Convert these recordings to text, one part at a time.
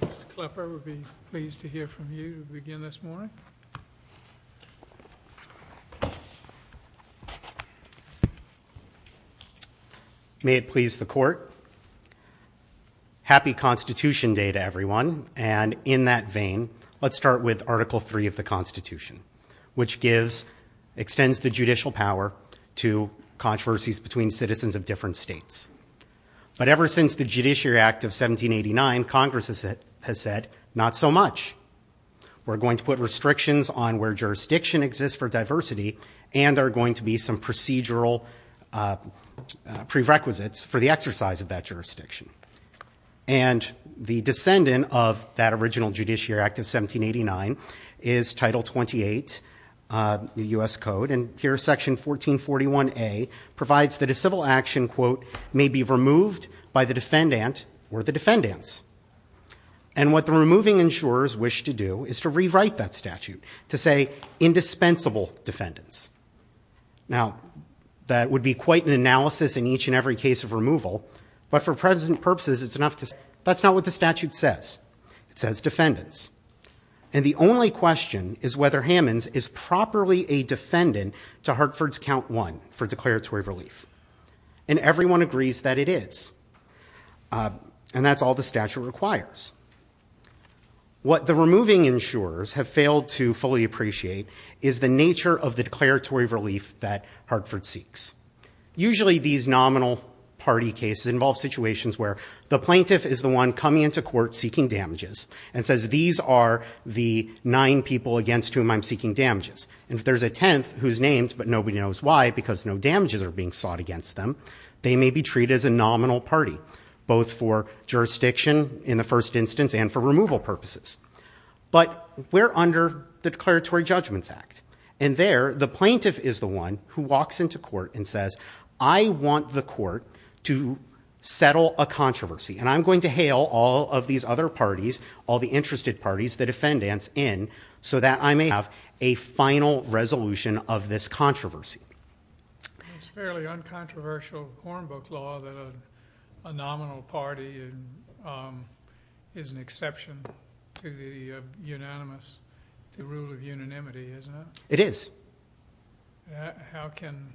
Mr. Klepper, we'd be pleased to hear from you to begin this morning. May it please the Court. Happy Constitution Day to everyone. And in that vein, let's start with Article III of the Constitution, which gives, extends the judicial power to controversies between citizens of different states. But ever since the Judiciary Act of 1789, Congress has said, not so much. We're going to put restrictions on where jurisdiction exists for diversity, and there are going to be some procedural prerequisites for the exercise of that jurisdiction. And the descendant of that original Judiciary Act of 1789 is Title 28, the U.S. Code. And here, Section 1441A provides that a civil action, quote, may be removed by the defendant or the defendants. And what the removing insurers wish to do is to rewrite that statute to say, indispensable defendants. Now, that would be quite an analysis in each and every case of removal. But for present purposes, it's enough to say, that's not what the statute says. It says defendants. And the only question is whether Hammons is properly a defendant to Hartford's Count 1 for declaratory relief. And everyone agrees that it is. And that's all the statute requires. What the removing insurers have failed to fully appreciate is the nature of the declaratory relief that Hartford seeks. Usually these nominal party cases involve situations where the plaintiff is the one coming into court seeking damages and says, these are the nine people against whom I'm seeking damages. And if there's a tenth who's named, but nobody knows why, because no damages are being sought against them, they may be treated as a nominal party, both for jurisdiction in the first instance and for removal purposes. But we're under the Declaratory Judgments Act. And there, the plaintiff is the one who walks into court and says, I want the court to settle a controversy. And I'm going to hail all of these other parties, all the interested parties, the defendants in, so that I may have a final resolution of this controversy. It's fairly uncontroversial hornbook law that a nominal party is an exception to the unanimous rule of unanimity, isn't it? It is. How can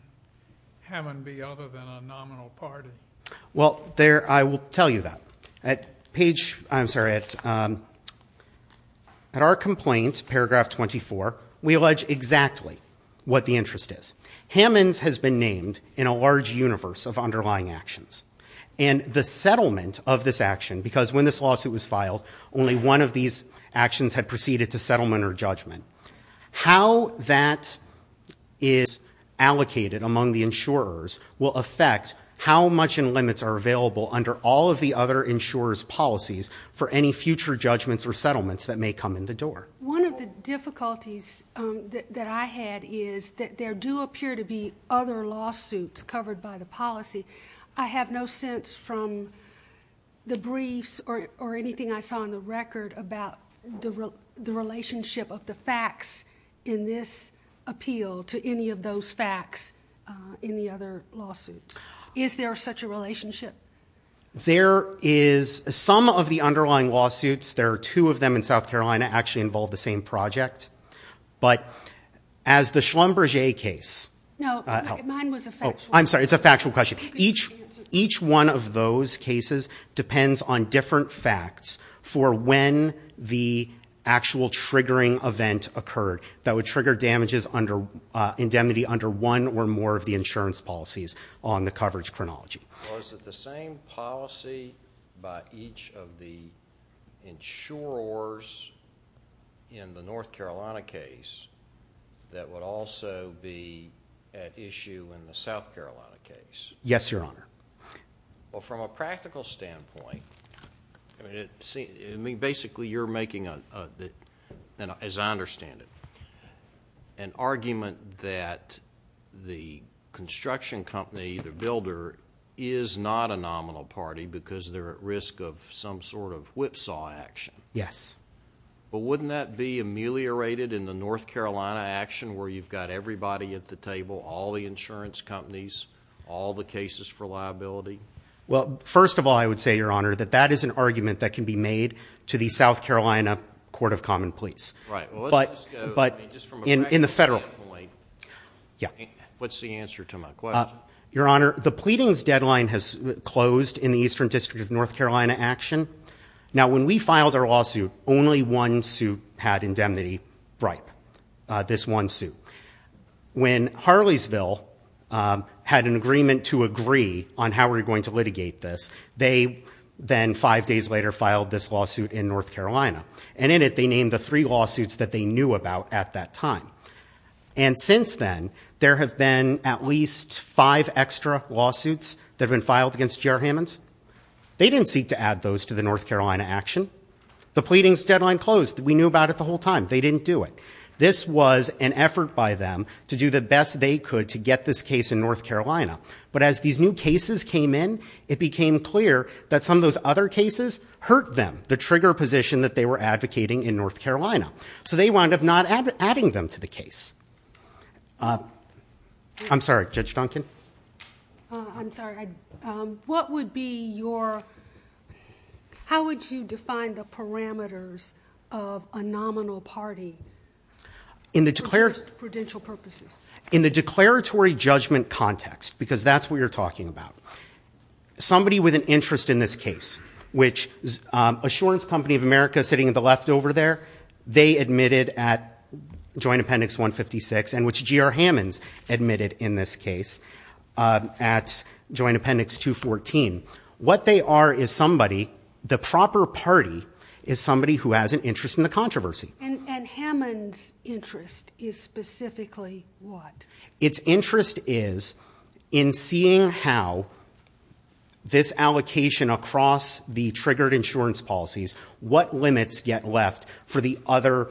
Hammond be other than a nominal party? Well, there, I will tell you that. At page, I'm sorry, at our complaint, paragraph 24, we allege exactly what the interest is. Hammond's has been named in a large universe of underlying actions. And the settlement of this action, because when this lawsuit was filed, only one of these actions had proceeded to settlement or judgment. How that is allocated among the insurers will affect how much in limits are available under all of the other insurers' policies for any future judgments or settlements that may come in the door. One of the difficulties that I had is that there do appear to be other lawsuits covered by the policy. I have no sense from the briefs or anything I saw on the record about the relationship of the facts in this appeal to any of those facts in the other lawsuits. Is there such a relationship? There is some of the underlying lawsuits. There are two of them in South Carolina that actually involve the same project. But as the Schlumberger case... No, mine was a factual... I'm sorry, it's a factual question. Each one of those cases depends on different facts for when the actual triggering event occurred that would trigger damages under indemnity under one or more of the insurance policies on the coverage chronology. Was it the same policy by each of the insurers in the North Carolina case that would also be at issue in the South Carolina case? Yes, Your Honor. Well, from a practical standpoint, I mean, basically you're making, as I understand it, an argument that the construction company, the builder, is not a nominal party because they're at risk of some sort of whipsaw action. Yes. But wouldn't that be ameliorated in the North Carolina action where you've got everybody at the table, all the insurance companies, all the cases for liability? Well, first of all, I would say, Your Honor, that that is an argument that can be made to the South Carolina Court of Common Pleas. Right. But in the federal point, what's the answer to my question? Your Honor, the pleadings deadline has closed in the Eastern District of North Carolina action. Now, when we filed our lawsuit, only one suit had indemnity bribe, this one suit. When Harleysville had an agreement to agree on how we were going to litigate this, they then five days later filed this lawsuit in North Carolina. And in it, they named the three lawsuits that they knew about at that time. And since then, there have been at least five extra lawsuits that have been filed against GR Hammonds. They didn't seek to add those to the North Carolina action. The pleadings deadline closed. We knew about it the whole time. They didn't do it. This was an effort by them to do the best they could to get this case in North Carolina. But as these new cases came in, it became clear that some of those other cases hurt them, the trigger position that they were advocating in North Carolina. So they wound up not adding them to the case. I'm sorry, Judge Duncan? I'm sorry. What would be your... How would you define the parameters of a nominal party for just prudential purposes? In the declaratory judgment context, because that's what you're talking about. Somebody with an interest in this case, which Assurance Company of America sitting at the left over there, they admitted at Joint Appendix 156, and which GR Hammonds admitted in this case at Joint Appendix 214. What they are is somebody, the proper party, is somebody who has an interest in the controversy. And Hammonds' interest is specifically what? Its interest is in seeing how this allocation across the triggered insurance policies, what limits get left for the other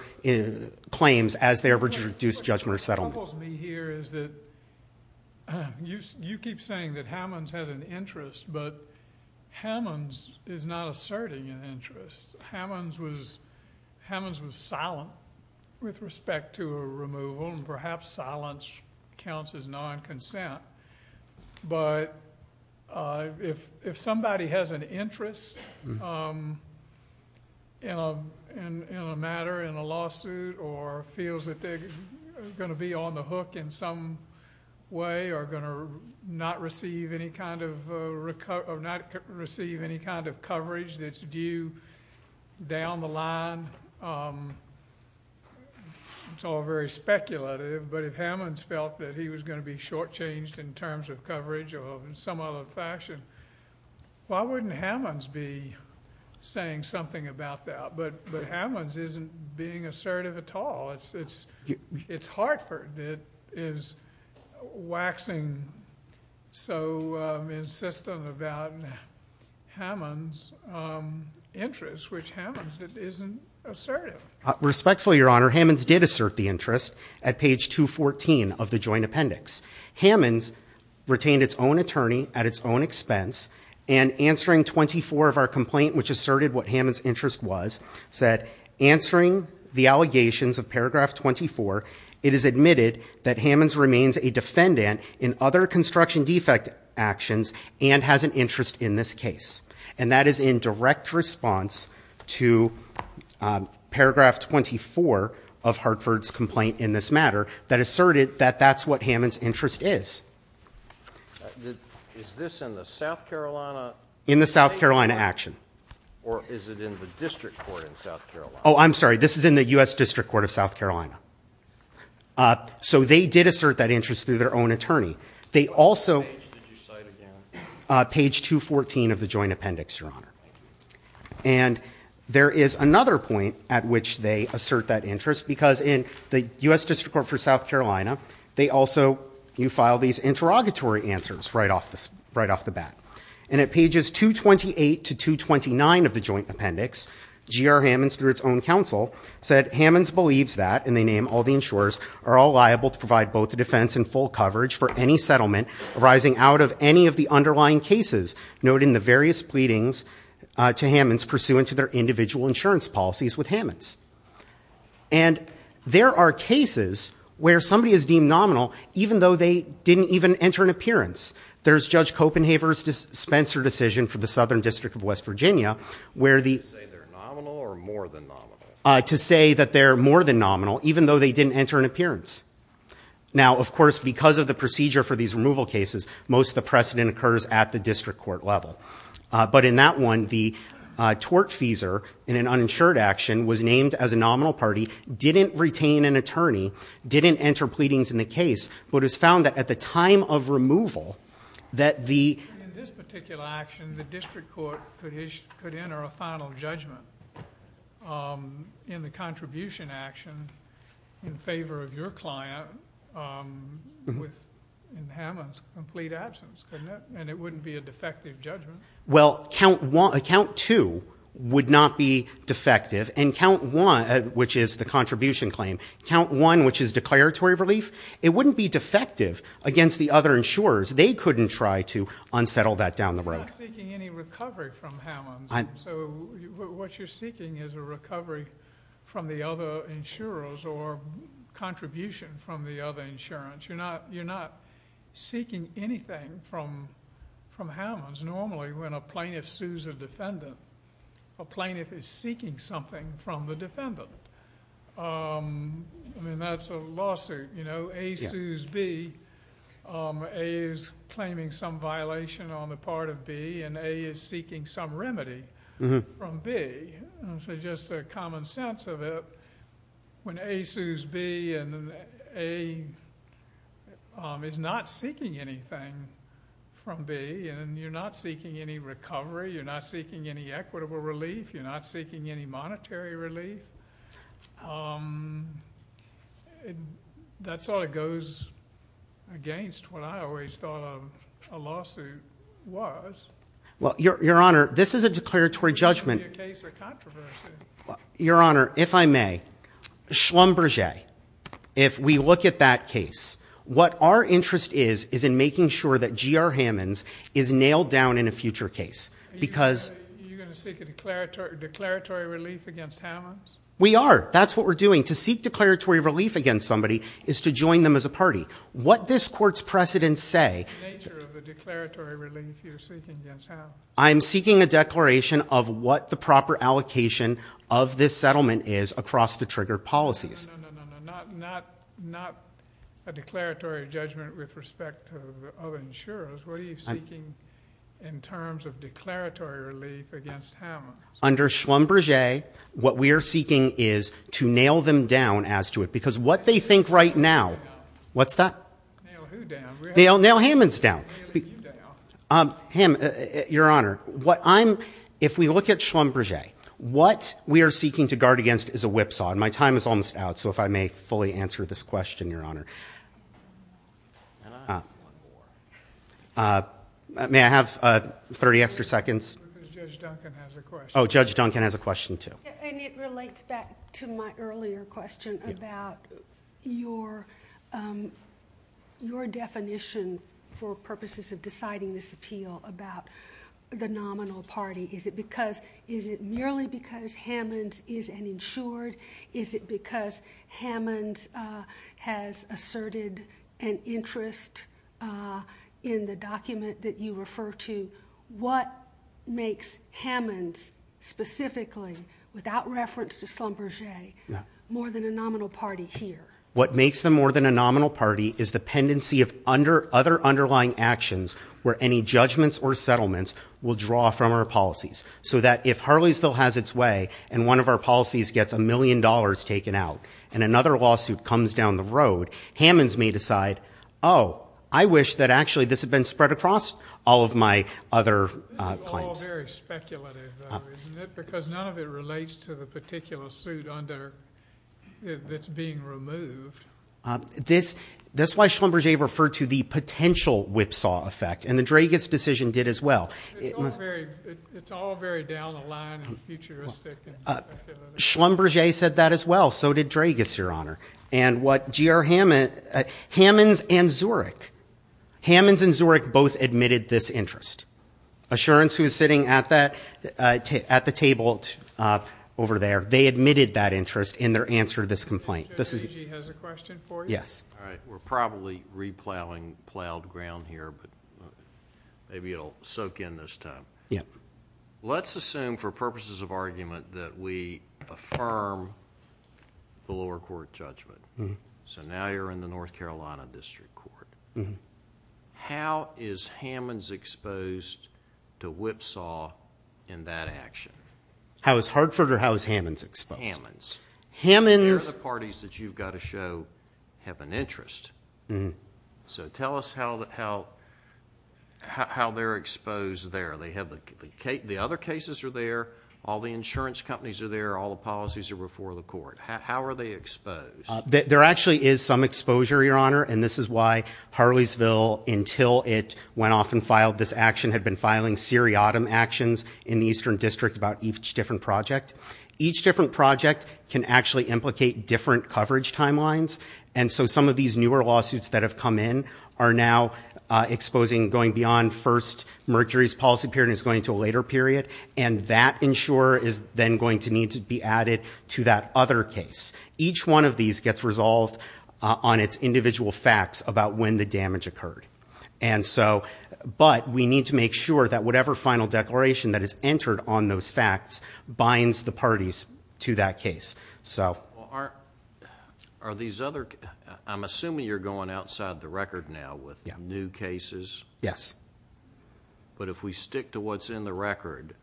claims as they're reduced judgment or settlement. What troubles me here is that you keep saying that Hammonds has an interest, but Hammonds is not asserting an interest. Hammonds was silent with respect to a removal, and perhaps silence counts as non-consent. But if somebody has an interest in a matter, in a lawsuit, or feels that they're going to be on the hook in some way, or going to not receive any kind of coverage that's due down the line, it's all very speculative, but if Hammonds felt that he was going to be shortchanged in terms of coverage or in some other fashion, why wouldn't Hammonds be saying something about that? But Hammonds isn't being assertive at all. It's Hartford that is waxing so insistent about Hammonds' interest, which Hammonds isn't assertive. Respectfully, Your Honor, Hammonds did assert the interest at page 214 of the joint appendix. Hammonds retained its own attorney at its own expense, and answering 24 of our complaint which asserted what Hammonds' interest was, said, answering the allegations of paragraph 24, it is admitted that Hammonds remains a defendant in other construction defect actions and has an interest in this case. And that is in direct response to paragraph 24 of Hartford's complaint in this matter that asserted that that's what Hammonds' interest is. Is this in the South Carolina? In the South Carolina action. Or is it in the district court in South Carolina? Oh, I'm sorry. This is in the U.S. District Court of South Carolina. So they did assert that interest through their own attorney. They also— What page did you cite again? Page 214 of the joint appendix, Your Honor. And there is another point at which they assert that interest, because in the U.S. District Court for South Carolina, they also—you file these interrogatory answers right off the bat. And at pages 228 to 229 of the joint appendix, G.R. Hammonds, through its own counsel, said Hammonds believes that, and they name all the insurers, are all liable to provide both the defense and full coverage for any settlement arising out of any of the underlying cases, noting the various pleadings to Hammonds pursuant to their individual insurance policies with Hammonds. And there are cases where somebody is deemed nominal, even though they didn't even enter an appearance. There's Judge Copenhaver's dispenser decision for the Southern District of West Virginia, where the— To say they're nominal or more than nominal? To say that they're more than nominal, even though they didn't enter an appearance. Now, of course, because of the procedure for these removal cases, most of the precedent occurs at the district court level. But in that one, the tort feeser in an uninsured action was named as a nominal party, didn't retain an attorney, didn't enter pleadings in the case, but it was found that at the time of removal that the— In this particular action, the district court could enter a final judgment in the contribution action in favor of your client with Hammonds' complete absence, couldn't it? And it wouldn't be a defective judgment? Well, count two would not be defective, and count one, which is the contribution claim, count one, which is declaratory relief, it wouldn't be defective against the other insurers. They couldn't try to unsettle that down the road. You're not seeking any recovery from Hammonds. So what you're seeking is a recovery from the other insurers or contribution from the other insurance. You're not seeking anything from Hammonds. Normally when a plaintiff sues a defendant, a plaintiff is seeking something from the defendant. I mean, that's a lawsuit, you know, A sues B, A is claiming some violation on the part of B, and A is seeking some remedy from B, and so just a common sense of it, when A sues B and A is not seeking anything from B, and you're not seeking any recovery, you're not seeking any equitable relief, you're not seeking any monetary relief, that sort of goes against what I always thought of a lawsuit was. Well, Your Honor, this is a declaratory judgment. Your Honor, if I may, Schlumberger, if we look at that case, what our interest is, is in making sure that G.R. Hammonds is nailed down in a future case. Because you're going to seek a declaratory relief against Hammonds? We are. That's what we're doing. To seek declaratory relief against somebody is to join them as a party. What this court's precedents say, I'm seeking a declaration of what the proper allocation of this settlement is across the trigger policies. No, no, no, no, not a declaratory judgment with respect to other insurers, what are you seeking in terms of declaratory relief against Hammonds? Under Schlumberger, what we are seeking is to nail them down as to it, because what they think right now— Nail who down? What's that? Nail who down? Nail Hammonds down. Nailing you down. Hammonds, Your Honor, if we look at Schlumberger, what we are seeking to guard against is a whipsaw and my time is almost out, so if I may fully answer this question, Your Honor. May I have 30 extra seconds? Judge Duncan has a question. Oh, Judge Duncan has a question, too. And it relates back to my earlier question about your definition for purposes of deciding this appeal about the nominal party. Is it because—is it merely because Hammonds is an insured? Is it because Hammonds has asserted an interest in the document that you refer to? What makes Hammonds specifically, without reference to Schlumberger, more than a nominal party here? What makes them more than a nominal party is the pendency of other underlying actions where any judgments or settlements will draw from our policies, so that if Harleysville has its way and one of our policies gets a million dollars taken out and another lawsuit comes down the road, Hammonds may decide, oh, I wish that actually this had been spread across all of my other claims. This is all very speculative, though, isn't it? Because none of it relates to the particular suit under—that's being removed. This is why Schlumberger referred to the potential whipsaw effect, and the Dragas decision did as well. It's all very down the line and futuristic. Schlumberger said that as well. So did Dragas, Your Honor. And what G.R. Hammond—Hammonds and Zurek—Hammonds and Zurek both admitted this interest. Assurance, who is sitting at the table over there, they admitted that interest in their answer to this complaint. Judge McGee has a question for you. Yes. All right. We're probably re-plowing plowed ground here, but maybe it'll soak in this time. Yeah. Let's assume for purposes of argument that we affirm the lower court judgment. So now you're in the North Carolina District Court. How is Hammonds exposed to whipsaw in that action? How is Hartford or how is Hammonds exposed? Hammonds. The parties that you've got to show have an interest. So tell us how they're exposed there. They have the other cases are there, all the insurance companies are there, all the policies are before the court. How are they exposed? There actually is some exposure, Your Honor, and this is why Harleysville, until it went off and filed this action, had been filing seriatim actions in the Eastern District about each different project. Each different project can actually implicate different coverage timelines, and so some of these newer lawsuits that have come in are now exposing going beyond first Mercury's policy period and it's going to a later period, and that insurer is then going to need to be added to that other case. Each one of these gets resolved on its individual facts about when the damage occurred. But we need to make sure that whatever final declaration that is entered on those facts binds the parties to that case. So are these other, I'm assuming you're going outside the record now with new cases? Yes. But if we stick to what's in the record,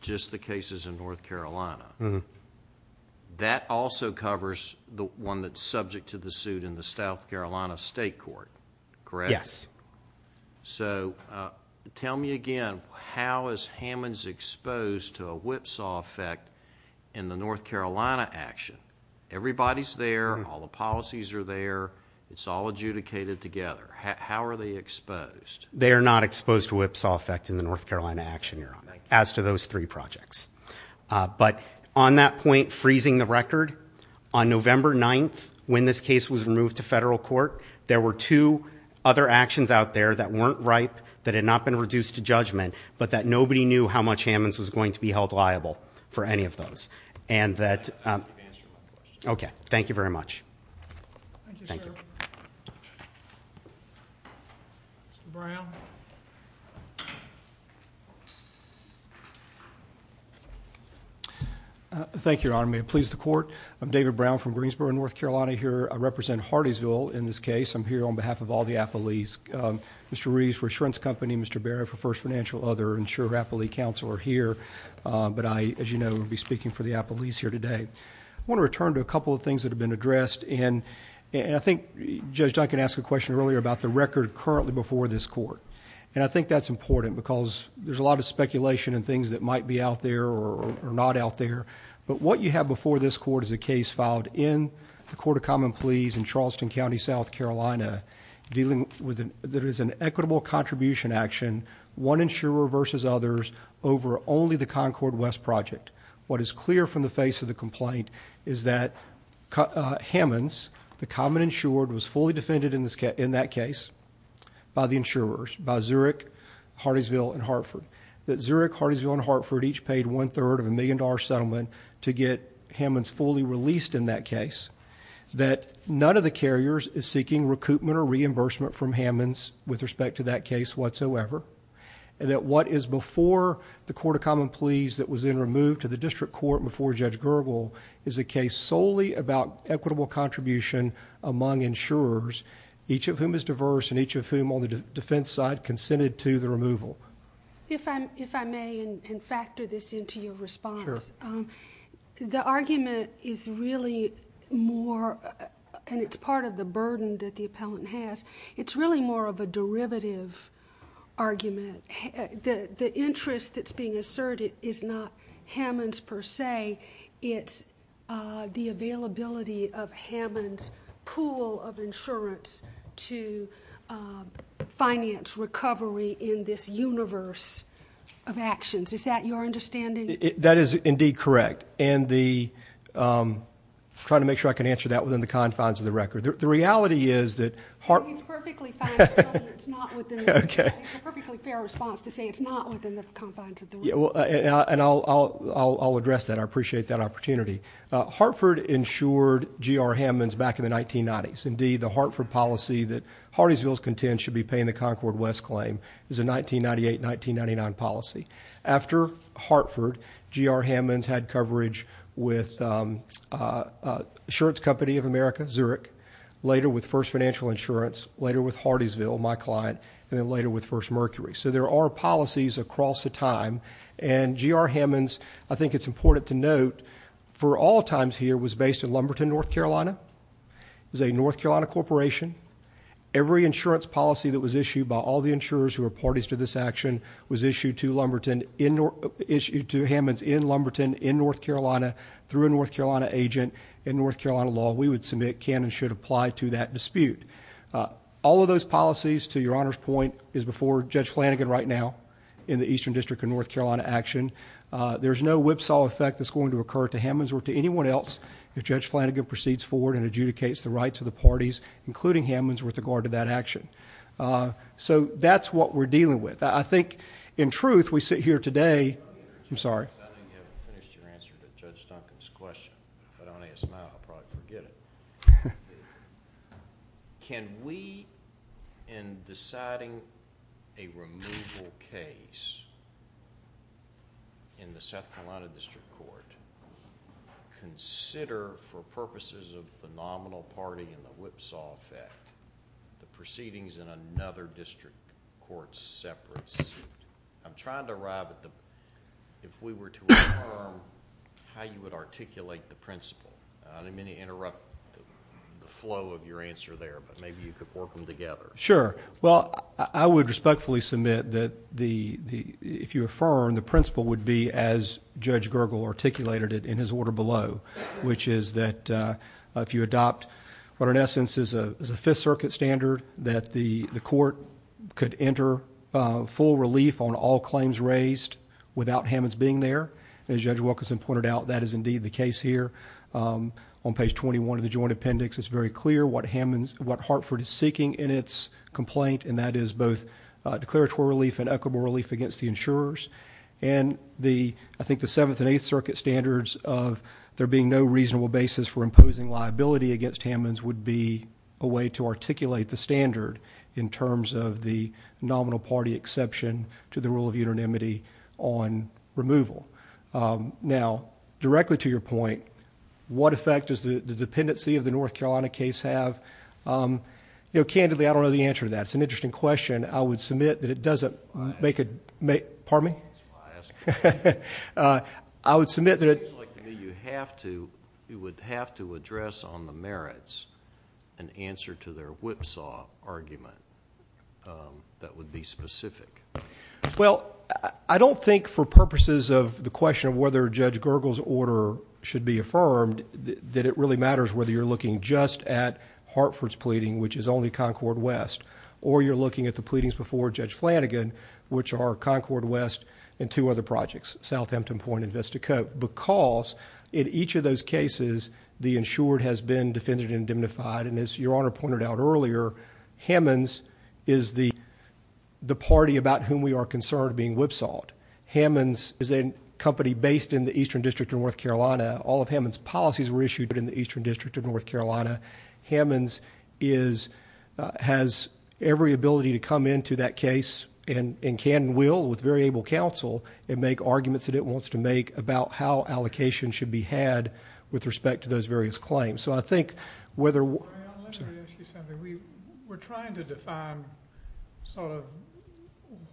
just the cases in North Carolina, that also covers the one that's subject to the suit in the South Carolina State Court, correct? Yes. So tell me again, how is Hammonds exposed to a whipsaw effect in the North Carolina action? Everybody's there, all the policies are there, it's all adjudicated together. How are they exposed? They are not exposed to a whipsaw effect in the North Carolina action, Your Honor, as to those three projects. But on that point, freezing the record, on November 9th, when this case was removed to that had not been reduced to judgment, but that nobody knew how much Hammonds was going to be held liable for any of those. And that, okay. Thank you very much. Thank you, sir. Mr. Brown. Thank you, Your Honor. May it please the Court. I'm David Brown from Greensboro, North Carolina here. I represent Hardeesville in this case. I'm here on behalf of all the appellees. Mr. Reeves for Shrentz Company, Mr. Barrett for First Financial, other insurer appellee counsel are here, but I, as you know, will be speaking for the appellees here today. I want to return to a couple of things that have been addressed, and I think Judge Duncan asked a question earlier about the record currently before this Court, and I think that's important because there's a lot of speculation and things that might be out there or not out there. But what you have before this Court is a case filed in the Court of Common Pleas in Charleston that is an equitable contribution action, one insurer versus others, over only the Concord West project. What is clear from the face of the complaint is that Hammonds, the common insured, was fully defended in that case by the insurers, by Zurich, Hardeesville, and Hartford. That Zurich, Hardeesville, and Hartford each paid one-third of a million-dollar settlement to get Hammonds fully released in that case. That none of the carriers is seeking recoupment or reimbursement from Hammonds with respect to that case whatsoever, and that what is before the Court of Common Pleas that was then removed to the district court before Judge Gergel is a case solely about equitable contribution among insurers, each of whom is diverse and each of whom on the defense side consented to the removal. If I may, and factor this into your response, the argument is really more, and it's part of the burden that the appellant has, it's really more of a derivative argument. The interest that's being asserted is not Hammonds per se, it's the availability of a universe of actions. Is that your understanding? That is indeed correct, and I'm trying to make sure I can answer that within the confines of the record. The reality is that... It's a perfectly fair response to say it's not within the confines of the record. I'll address that. I appreciate that opportunity. Hartford insured G.R. Hammonds back in the 1990s. Indeed, the Hartford policy that Hardeesville's content should be paying the Concord West claim is a 1998-1999 policy. After Hartford, G.R. Hammonds had coverage with Assurance Company of America, Zurich, later with First Financial Insurance, later with Hardeesville, my client, and then later with First Mercury. So there are policies across the time, and G.R. Hammonds, I think it's important to note, for all times here, was based in Lumberton, North Carolina, is a North Carolina corporation. Every insurance policy that was issued by all the insurers who are parties to this action was issued to Hammonds in Lumberton, in North Carolina, through a North Carolina agent, in North Carolina law. We would submit can and should apply to that dispute. All of those policies, to Your Honor's point, is before Judge Flanagan right now in the Eastern District of North Carolina action. There's no whipsaw effect that's going to occur to Hammonds or to anyone else if Judge Flanagan and Judge Hammonds were to guard to that action. So that's what we're dealing with. I think, in truth, we sit here today... I'm sorry. I think you haven't finished your answer to Judge Duncan's question. If I don't ask now, I'll probably forget it. Can we, in deciding a removal case in the South Carolina District Court, consider, for example, the proceedings in another district court separate... I'm trying to arrive at the... If we were to affirm how you would articulate the principle, I didn't mean to interrupt the flow of your answer there, but maybe you could work them together. Sure. Well, I would respectfully submit that if you affirm, the principle would be as Judge Gergel articulated it in his order below, which is that if you adopt what in essence is a Fifth Circuit standard, that the court could enter full relief on all claims raised without Hammonds being there, and as Judge Wilkinson pointed out, that is indeed the case here. On page 21 of the Joint Appendix, it's very clear what Hartford is seeking in its complaint, and that is both declaratory relief and equitable relief against the insurers. And I think the Seventh and Eighth Circuit standards of there being no reasonable basis for imposing liability against Hammonds would be a way to articulate the standard in terms of the nominal party exception to the rule of unanimity on removal. Now, directly to your point, what effect does the dependency of the North Carolina case have? Candidly, I don't know the answer to that. It's an interesting question. I would submit that it doesn't... That's why I asked. I would submit that... on the merits, an answer to their whipsaw argument that would be specific. Well, I don't think for purposes of the question of whether Judge Gergel's order should be affirmed, that it really matters whether you're looking just at Hartford's pleading, which is only Concord West, or you're looking at the pleadings before Judge Flanagan, which are Concord West and two other projects, South Hampton Point and Vista Cove, because in each of those cases, the insured has been defended and diminified, and as your Honor pointed out earlier, Hammonds is the party about whom we are concerned being whipsawed. Hammonds is a company based in the Eastern District of North Carolina. All of Hammonds' policies were issued in the Eastern District of North Carolina. Hammonds has every ability to come into that case and can and will, with very able counsel, make arguments that it wants to make about how allocation should be had with respect to those various claims. So I think whether... I'm going to ask you something. We're trying to define sort of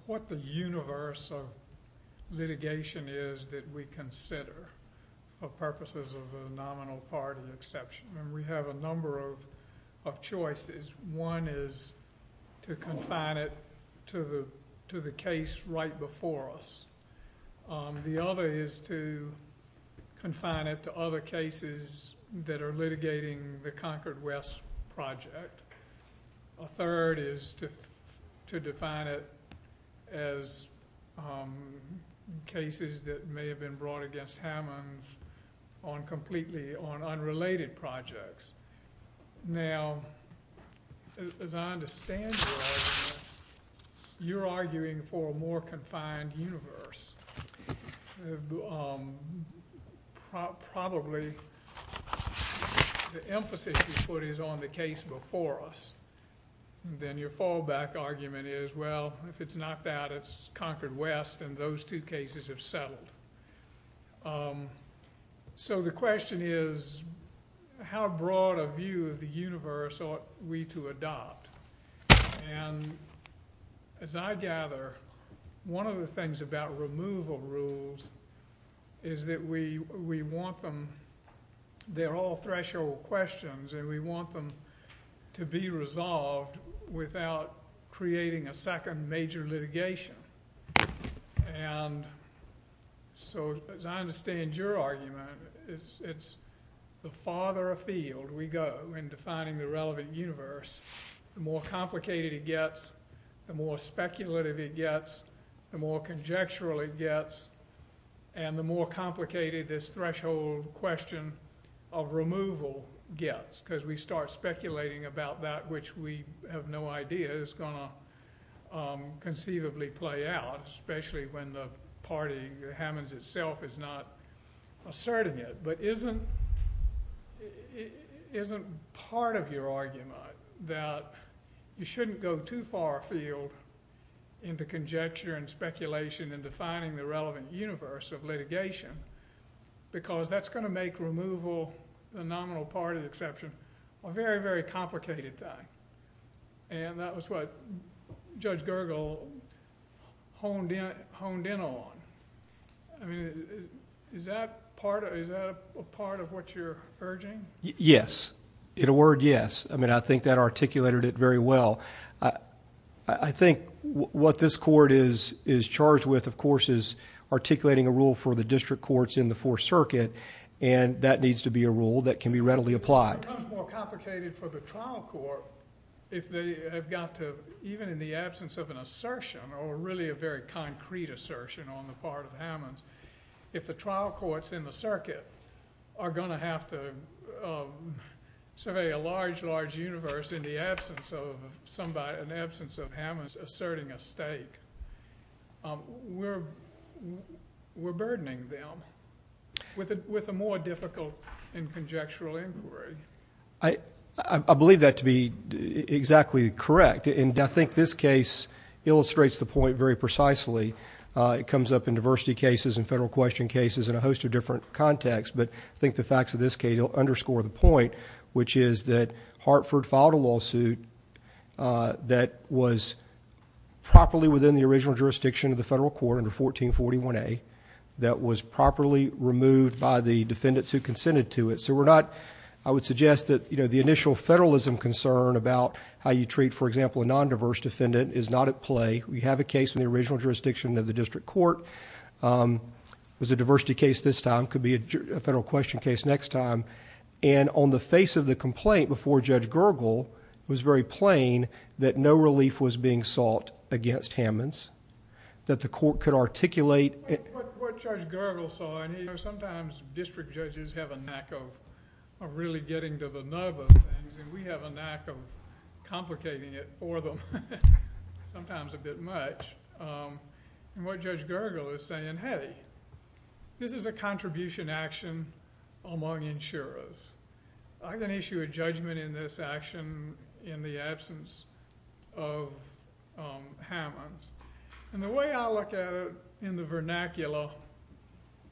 what the universe of litigation is that we consider for purposes of the nominal part of the exception, and we have a number of choices. One is to confine it to the case right before us. The other is to confine it to other cases that are litigating the Concord West project. A third is to define it as cases that may have been brought against Hammonds on completely on unrelated projects. Now, as I understand your argument, you're arguing for a more confined universe. Probably the emphasis you put is on the case before us, and then your fallback argument is, well, if it's knocked out, it's Concord West, and those two cases have settled. So the question is, how broad a view of the universe ought we to adopt? And as I gather, one of the things about removal rules is that we want them... they're all threshold questions, and we want them to be resolved without creating a second major litigation. And so, as I understand your argument, it's the farther afield we go in defining the relevant universe, the more complicated it gets, the more speculative it gets, the more conjectural it gets, and the more complicated this threshold question of removal gets, because we start to see it conceivably play out, especially when the party, Hammonds itself, is not asserting it, but isn't part of your argument that you shouldn't go too far afield into conjecture and speculation and defining the relevant universe of litigation, because that's going to make removal, the nominal party exception, a very, very complicated thing. And that was what Judge Gergel honed in on. I mean, is that a part of what you're urging? Yes. In a word, yes. I mean, I think that articulated it very well. I think what this court is charged with, of course, is articulating a rule for the district courts in the Fourth Circuit, and that needs to be a rule that can be readily applied. It becomes more complicated for the trial court if they have got to, even in the absence of an assertion, or really a very concrete assertion on the part of Hammonds, if the trial courts in the circuit are going to have to survey a large, large universe in the absence of Hammonds asserting a stake, we're burdening them with a more difficult and conjectural inquiry. I believe that to be exactly correct, and I think this case illustrates the point very precisely. It comes up in diversity cases and federal question cases in a host of different contexts, but I think the facts of this case underscore the point, which is that Hartford filed a lawsuit that was properly within the original jurisdiction of the federal court under 1441A that was properly removed by the defendants who consented to it. I would suggest that the initial federalism concern about how you treat, for example, a non-diverse defendant is not at play. We have a case in the original jurisdiction of the district court, it was a diversity case this time, it could be a federal question case next time, and on the face of the complaint before Judge Gergel, it was very plain that no relief was being sought against Hammonds, that the court could articulate... What Judge Gergel saw, and sometimes district judges have a knack of really getting to the nub of things, and we have a knack of complicating it for them, sometimes a bit much, and what Judge Gergel is saying, hey, this is a contribution action among insurers, I'm going to issue a judgment in this action in the absence of Hammonds, and the way I look at it in the vernacular,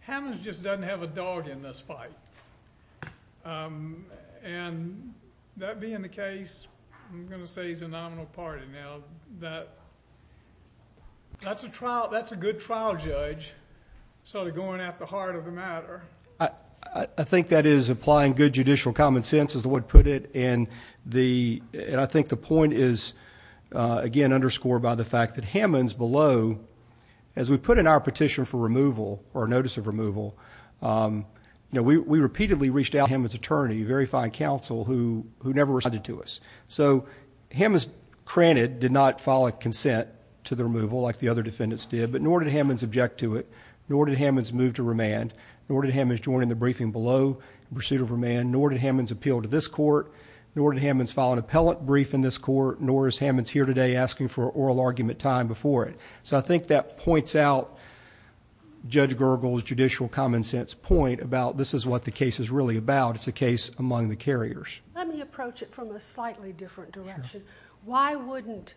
Hammonds just doesn't have a dog in this fight. That being the case, I'm going to say he's a nominal party now, that's a good trial judge sort of going at the heart of the matter. I think that is applying good judicial common sense is the way to put it, and I think the Hammonds below, as we put in our petition for removal, or notice of removal, we repeatedly reached out to Hammonds' attorney, a very fine counsel, who never responded to us. Hammonds, granted, did not file a consent to the removal like the other defendants did, but nor did Hammonds object to it, nor did Hammonds move to remand, nor did Hammonds join in the briefing below in pursuit of remand, nor did Hammonds appeal to this court, nor did Hammonds file an appellate brief in this court, nor is Hammonds here today asking for oral argument time before it. I think that points out Judge Gergel's judicial common sense point about this is what the case is really about, it's a case among the carriers. Let me approach it from a slightly different direction. Why wouldn't,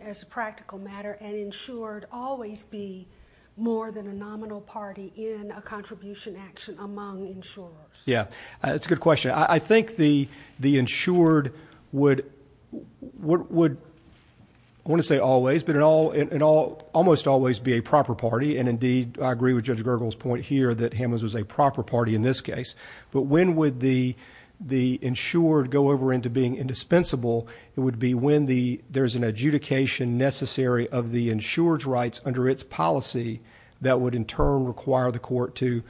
as a practical matter, an insurer always be more than a nominal party in a contribution action among insurers? Yeah, that's a good question. I think the insured would, I want to say always, but almost always be a proper party, and indeed I agree with Judge Gergel's point here that Hammonds was a proper party in this case, but when would the insured go over into being indispensable, it would be when there's an adjudication necessary of the insurer's rights under its policy that would in turn require the court to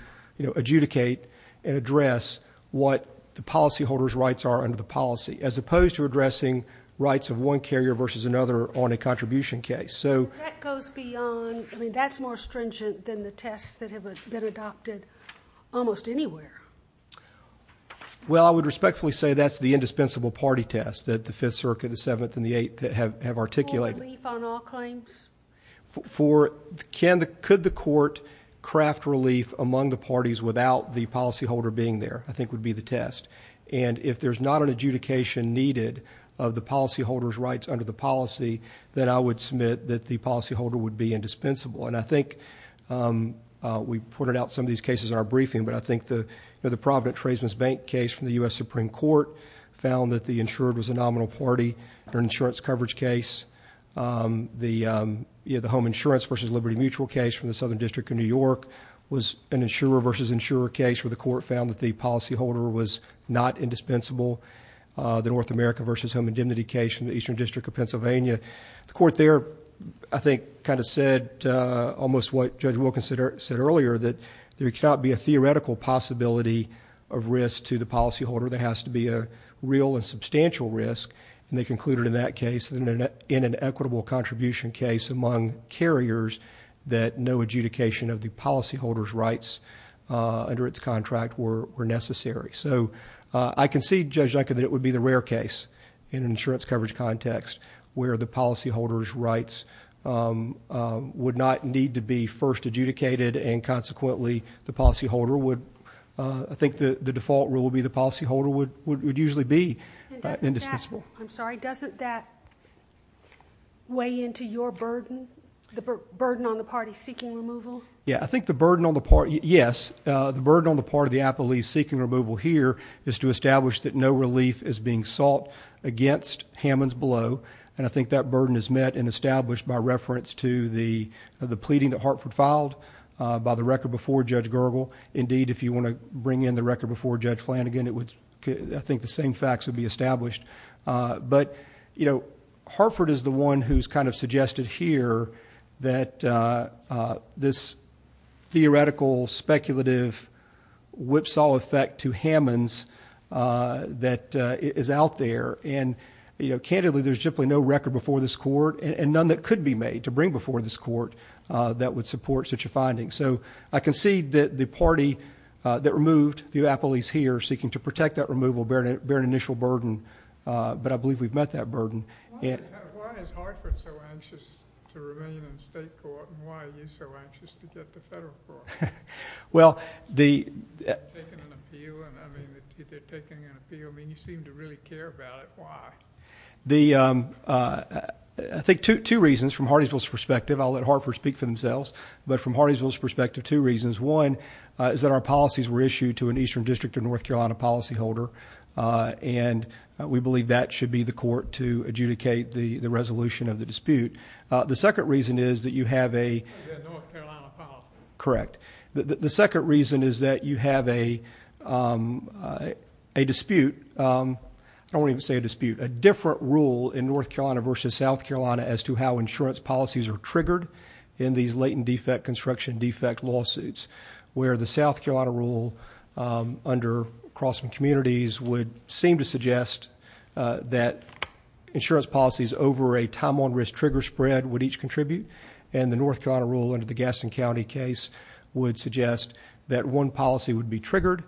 adjudicate and address what the policyholder's rights are under the policy, as opposed to addressing rights of one carrier versus another on a contribution case. So that goes beyond, I mean that's more stringent than the tests that have been adopted almost anywhere. Well I would respectfully say that's the indispensable party test that the 5th Circuit, the 7th and For relief on all claims? For, could the court craft relief among the parties without the policyholder being there, I think would be the test. And if there's not an adjudication needed of the policyholder's rights under the policy, then I would submit that the policyholder would be indispensable. And I think we've pointed out some of these cases in our briefing, but I think the Providence Tradesman's Bank case from the U.S. Supreme Court found that the insured was a nominal party under an insurance coverage case. The Home Insurance versus Liberty Mutual case from the Southern District of New York was an insurer versus insurer case where the court found that the policyholder was not indispensable. The North America versus Home Indemnity case from the Eastern District of Pennsylvania. The court there, I think, kind of said almost what Judge Wilkins said earlier, that there cannot be a theoretical possibility of risk to the policyholder, there has to be a real and substantial risk, and they concluded in that case, in an equitable contribution case among carriers, that no adjudication of the policyholder's rights under its contract were necessary. So I concede, Judge Duncan, that it would be the rare case in an insurance coverage context where the policyholder's rights would not need to be first adjudicated and consequently the policyholder would, I think the default rule would be the policyholder would usually be indispensable. And doesn't that, I'm sorry, doesn't that weigh into your burden, the burden on the party seeking removal? Yeah, I think the burden on the party, yes, the burden on the party of the Appellee seeking removal here is to establish that no relief is being sought against Hammond's Blow, and I think that burden is met and established by reference to the pleading that Hartford filed by the record before Judge Gergel. Indeed, if you want to bring in the record before Judge Flanagan, it would, I think, the same facts would be established. But you know, Hartford is the one who's kind of suggested here that this theoretical, speculative whipsaw effect to Hammond's that is out there, and you know, candidly, there's simply no record before this court and none that could be made to bring before this court that would support such a finding. So I concede that the party that removed the Appellees here seeking to protect that removal bear an initial burden, but I believe we've met that burden. Why is Hartford so anxious to remain in state court, and why are you so anxious to get to federal court? Well, the... They're taking an appeal, and I mean, if they're taking an appeal, I mean, you seem to really care about it. Why? The... I think two reasons from Hardingsville's perspective, I'll let Hartford speak for themselves, but from Hardingsville's perspective, two reasons, one is that our policies were issued to an Eastern District of North Carolina policyholder, and we believe that should be the court to adjudicate the resolution of the dispute. The second reason is that you have a... The North Carolina policy. Correct. The second reason is that you have a dispute, I won't even say a dispute, a different rule in North Carolina versus South Carolina as to how insurance policies are triggered in these latent defect, construction defect lawsuits, where the South Carolina rule under Crossman Communities would seem to suggest that insurance policies over a time on risk trigger spread would each contribute, and the North Carolina rule under the Gaston County case would suggest that one policy would be triggered,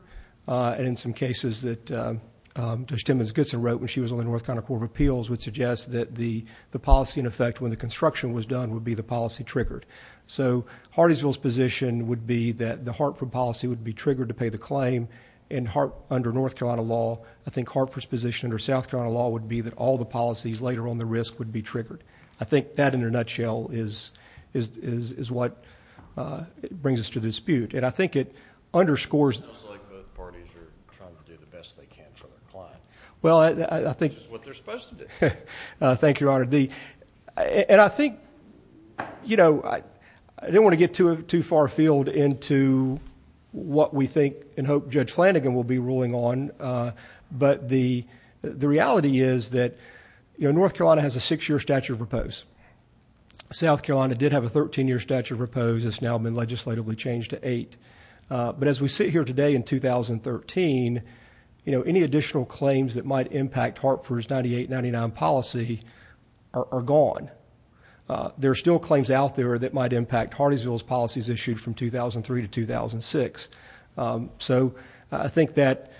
and in some cases that Judge Timmons Goodson wrote when she was on the North Carolina Court of Appeals would suggest that the policy in effect when the construction was done would be the policy triggered. So Hardingsville's position would be that the Hartford policy would be triggered to pay the claim, and under North Carolina law, I think Hartford's position under South Carolina law would be that all the policies later on the risk would be triggered. I think that in a nutshell is what brings us to the dispute, and I think it underscores... It sounds like both parties are trying to do the best they can for their client. Well, I think... Which is what they're supposed to do. Thank you, Your Honor. And I think, you know, I didn't want to get too far afield into what we think and hope Judge Flanagan will be ruling on, but the reality is that North Carolina has a six-year statute of repose. South Carolina did have a 13-year statute of repose. It's now been legislatively changed to eight. But as we sit here today in 2013, you know, any additional claims that might impact Hartford's 1998-99 policy are gone. There are still claims out there that might impact Hardingsville's policies issued from 2003 to 2006. So I think that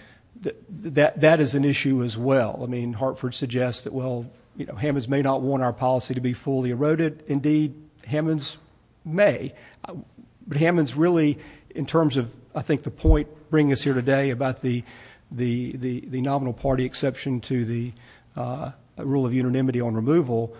is an issue as well. I mean, Hartford suggests that, well, Hammonds may not want our policy to be fully eroded. Indeed, Hammonds may, but Hammonds really, in terms of, I think, the point bringing us here today about the nominal party exception to the rule of unanimity on removal,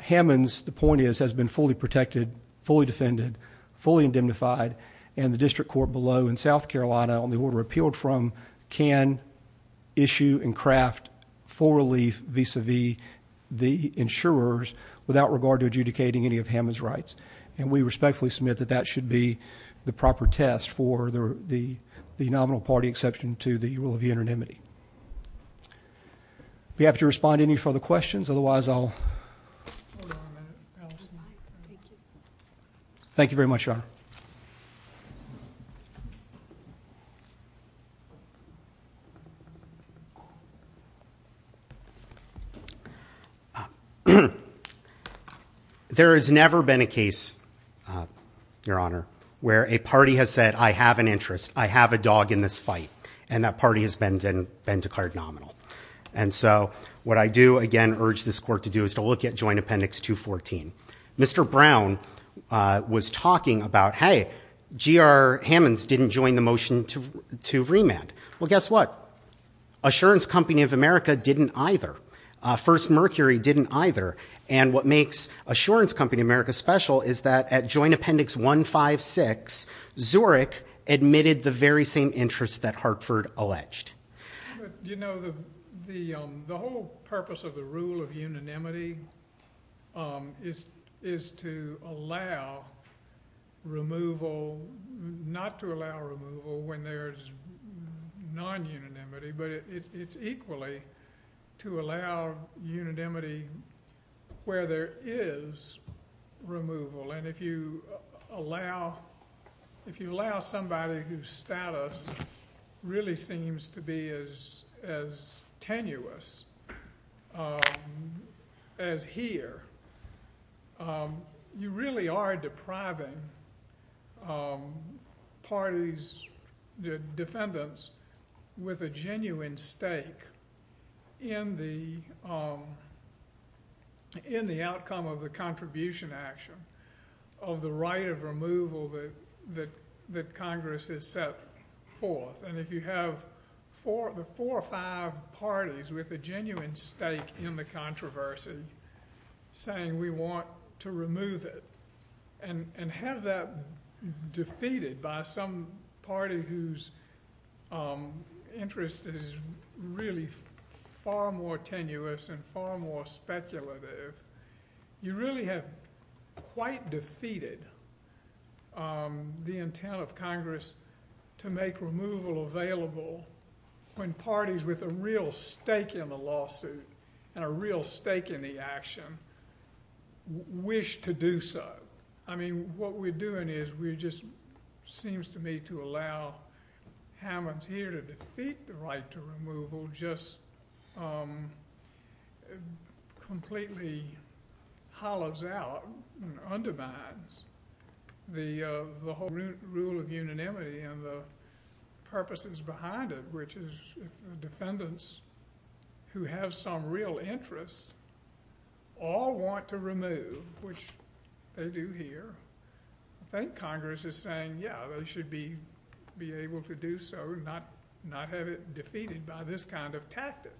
Hammonds, the point is, has been fully protected, fully defended, fully indemnified, and the district court below in South Carolina, on the order appealed from, can issue and craft full relief vis-a-vis the insurers without regard to adjudicating any of Hammonds' rights. And we respectfully submit that that should be the proper test for the nominal party exception to the rule of unanimity. If you have to respond to any further questions, otherwise, I'll... Thank you very much, Your Honor. Thank you. There has never been a case, Your Honor, where a party has said, I have an interest, I have a dog in this fight, and that party has been declared nominal. And so what I do, again, urge this court to do is to look at Joint Appendix 214. Mr. Brown was talking about, hey, G.R. Hammonds didn't join the motion to remand. Well, guess what? Assurance Company of America didn't either. First Mercury didn't either. And what makes Assurance Company of America special is that at Joint Appendix 156, Zurich admitted the very same interests that Hartford alleged. You know, the whole purpose of the rule of unanimity is to allow removal, not to allow removal when there's non-unanimity, but it's equally to allow unanimity where there is removal. And if you allow somebody whose status really seems to be as tenuous as here, you really are depriving parties, the defendants, with a genuine stake in the outcome of the contribution action of the right of removal that Congress has set forth. And if you have the four or five parties with a genuine stake in the controversy saying we want to remove it, and have that defeated by some party whose interest is really far more tenuous and far more speculative, you really have quite defeated the intent of Congress to make removal available when parties with a real stake in the lawsuit and a real stake in the action wish to do so. I mean, what we're doing is we're just, seems to me, to allow Hammonds here to defeat the and completely hollows out and undermines the whole rule of unanimity and the purposes behind it, which is defendants who have some real interest all want to remove, which they do here. I think Congress is saying, yeah, they should be able to do so and not have it defeated by this kind of tactic.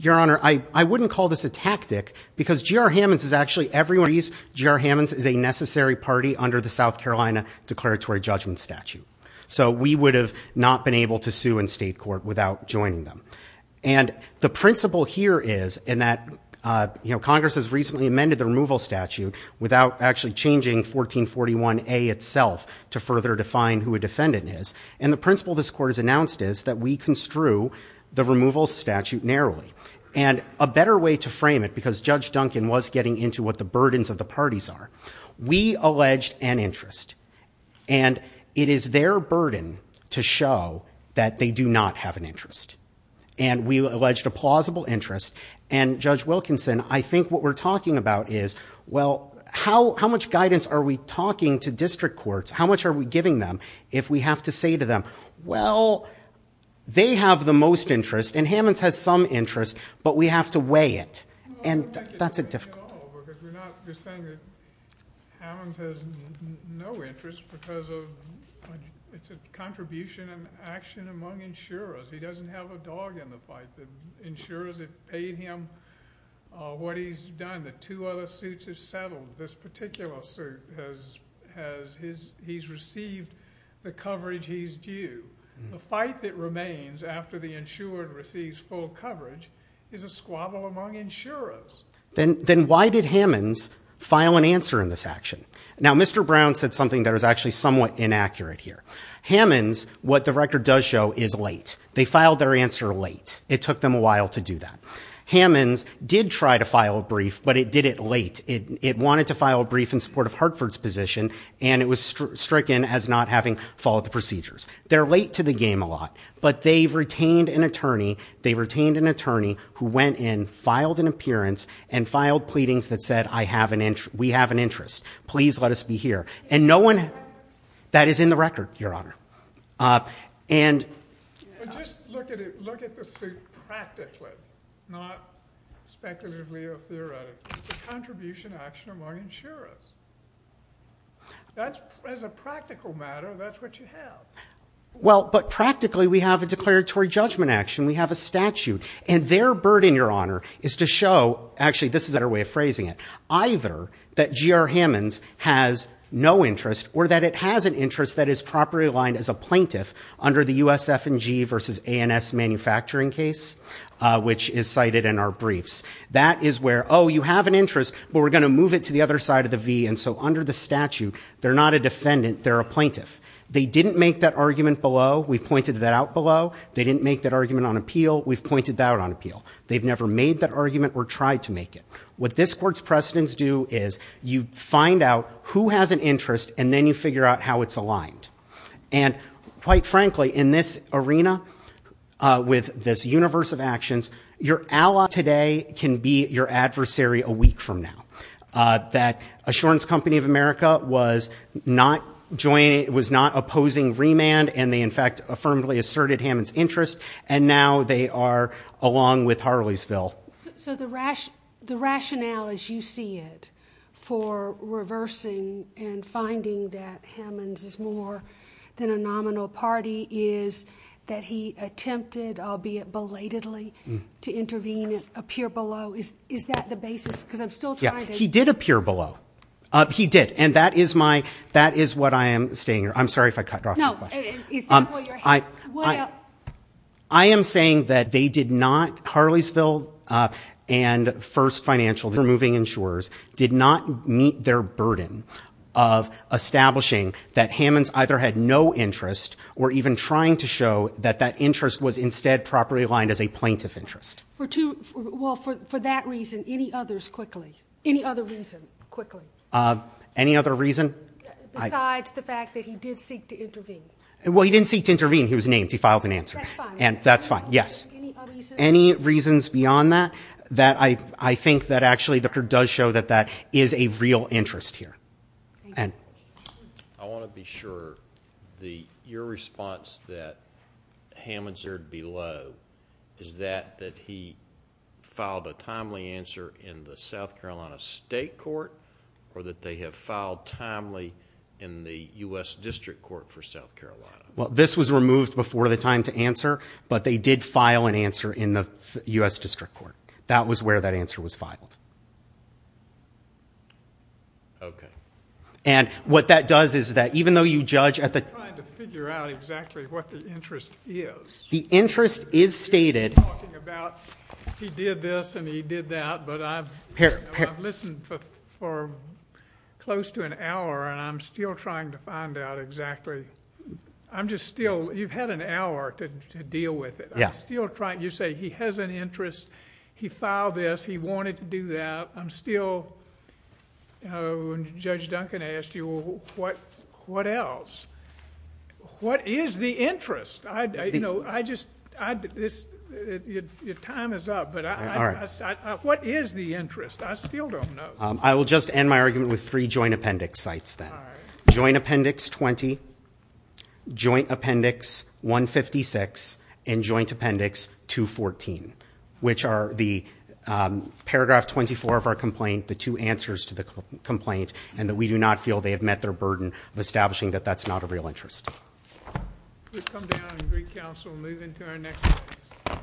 Your Honor, I wouldn't call this a tactic because G.R. Hammonds is actually a necessary party under the South Carolina declaratory judgment statute. So we would have not been able to sue in state court without joining them. And the principle here is, and that Congress has recently amended the removal statute without actually changing 1441A itself to further define who a defendant is, and the principle this court has announced is that we construe the removal statute narrowly. And a better way to frame it, because Judge Duncan was getting into what the burdens of the parties are, we alleged an interest. And it is their burden to show that they do not have an interest. And we alleged a plausible interest. And Judge Wilkinson, I think what we're talking about is, well, how much guidance are we talking to district courts? How much are we giving them if we have to say to them, well, they have the most interest, and Hammonds has some interest, but we have to weigh it? And that's a difficulty. I don't think it's weighing it all over because we're not just saying that Hammonds has no interest because of, it's a contribution and action among insurers. He doesn't have a dog in the fight. The insurers have paid him what he's done. The two other suits have settled. This particular suit has his, he's received the coverage he's due. The fight that remains after the insurer receives full coverage is a squabble among insurers. Then why did Hammonds file an answer in this action? Now Mr. Brown said something that was actually somewhat inaccurate here. Hammonds, what the record does show, is late. They filed their answer late. It took them a while to do that. Hammonds did try to file a brief, but it did it late. It wanted to file a brief in support of Hartford's position, and it was stricken as not having followed the procedures. They're late to the game a lot, but they've retained an attorney, they retained an attorney who went in, filed an appearance, and filed pleadings that said, we have an interest. Please let us be here. And no one, that is in the record, your honor. And... But just look at it, look at the suit practically, not speculatively or theoretically. It's a contribution action among insurers. That's, as a practical matter, that's what you have. Well, but practically we have a declaratory judgment action. We have a statute. And their burden, your honor, is to show, actually this is our way of phrasing it, either that GR Hammonds has no interest or that it has an interest that is properly aligned as a plaintiff under the USF&G versus ANS manufacturing case, which is cited in our briefs. That is where, oh, you have an interest, but we're going to move it to the other side of the V, and so under the statute, they're not a defendant, they're a plaintiff. They didn't make that argument below, we pointed that out below. They didn't make that argument on appeal, we've pointed that out on appeal. They've never made that argument or tried to make it. What this court's precedents do is you find out who has an interest, and then you figure out how it's aligned. And quite frankly, in this arena, with this universe of actions, your ally today can be your adversary a week from now. That Assurance Company of America was not opposing remand, and they in fact affirmably asserted Hammonds' interest, and now they are along with Harleysville. So the rationale as you see it for reversing and finding that Hammonds is more than a nominal party is that he attempted, albeit belatedly, to intervene and appear below. Is that the basis? Because I'm still trying to... Yeah. He did appear below. He did. And that is my... That is what I am saying. I'm sorry if I cut off your question. No. It's not what you're... Well... I am saying that they did not, Harleysville and First Financial, the moving insurers, did not meet their burden of establishing that Hammonds either had no interest or even trying to show that that interest was instead properly aligned as a plaintiff interest. For two... Well, for that reason, any others quickly? Any other reason quickly? Any other reason? Besides the fact that he did seek to intervene. Well, he didn't seek to intervene. He was named. He filed an answer. That's fine. That's fine. Yes. Any other reasons? Any reasons beyond that? That I think that actually the court does show that that is a real interest here. Thank you. I want to be sure that your response that Hammonds appeared below is that that he filed a timely answer in the South Carolina State Court or that they have filed timely in the U.S. District Court for South Carolina? Well, this was removed before the time to answer, but they did file an answer in the U.S. District Court. That was where that answer was filed. Okay. And what that does is that even though you judge at the... I'm trying to figure out exactly what the interest is. The interest is stated... You're talking about he did this and he did that, but I've listened for close to an hour and I'm still trying to find out exactly. I'm just still... You've had an hour to deal with it. I'm still trying... You say he has an interest. He filed this. He wanted to do that. I'm still... When Judge Duncan asked you, what else? What is the interest? I just... Your time is up, but what is the interest? I still don't know. I will just end my argument with three joint appendix sites then. Joint Appendix 20, Joint Appendix 156, and Joint Appendix 214, which are the paragraph 24 of our complaint, the two answers to the complaint, and that we do not feel they have met their burden of establishing that that's not a real interest. We'll come down and agree counsel and move into our next case.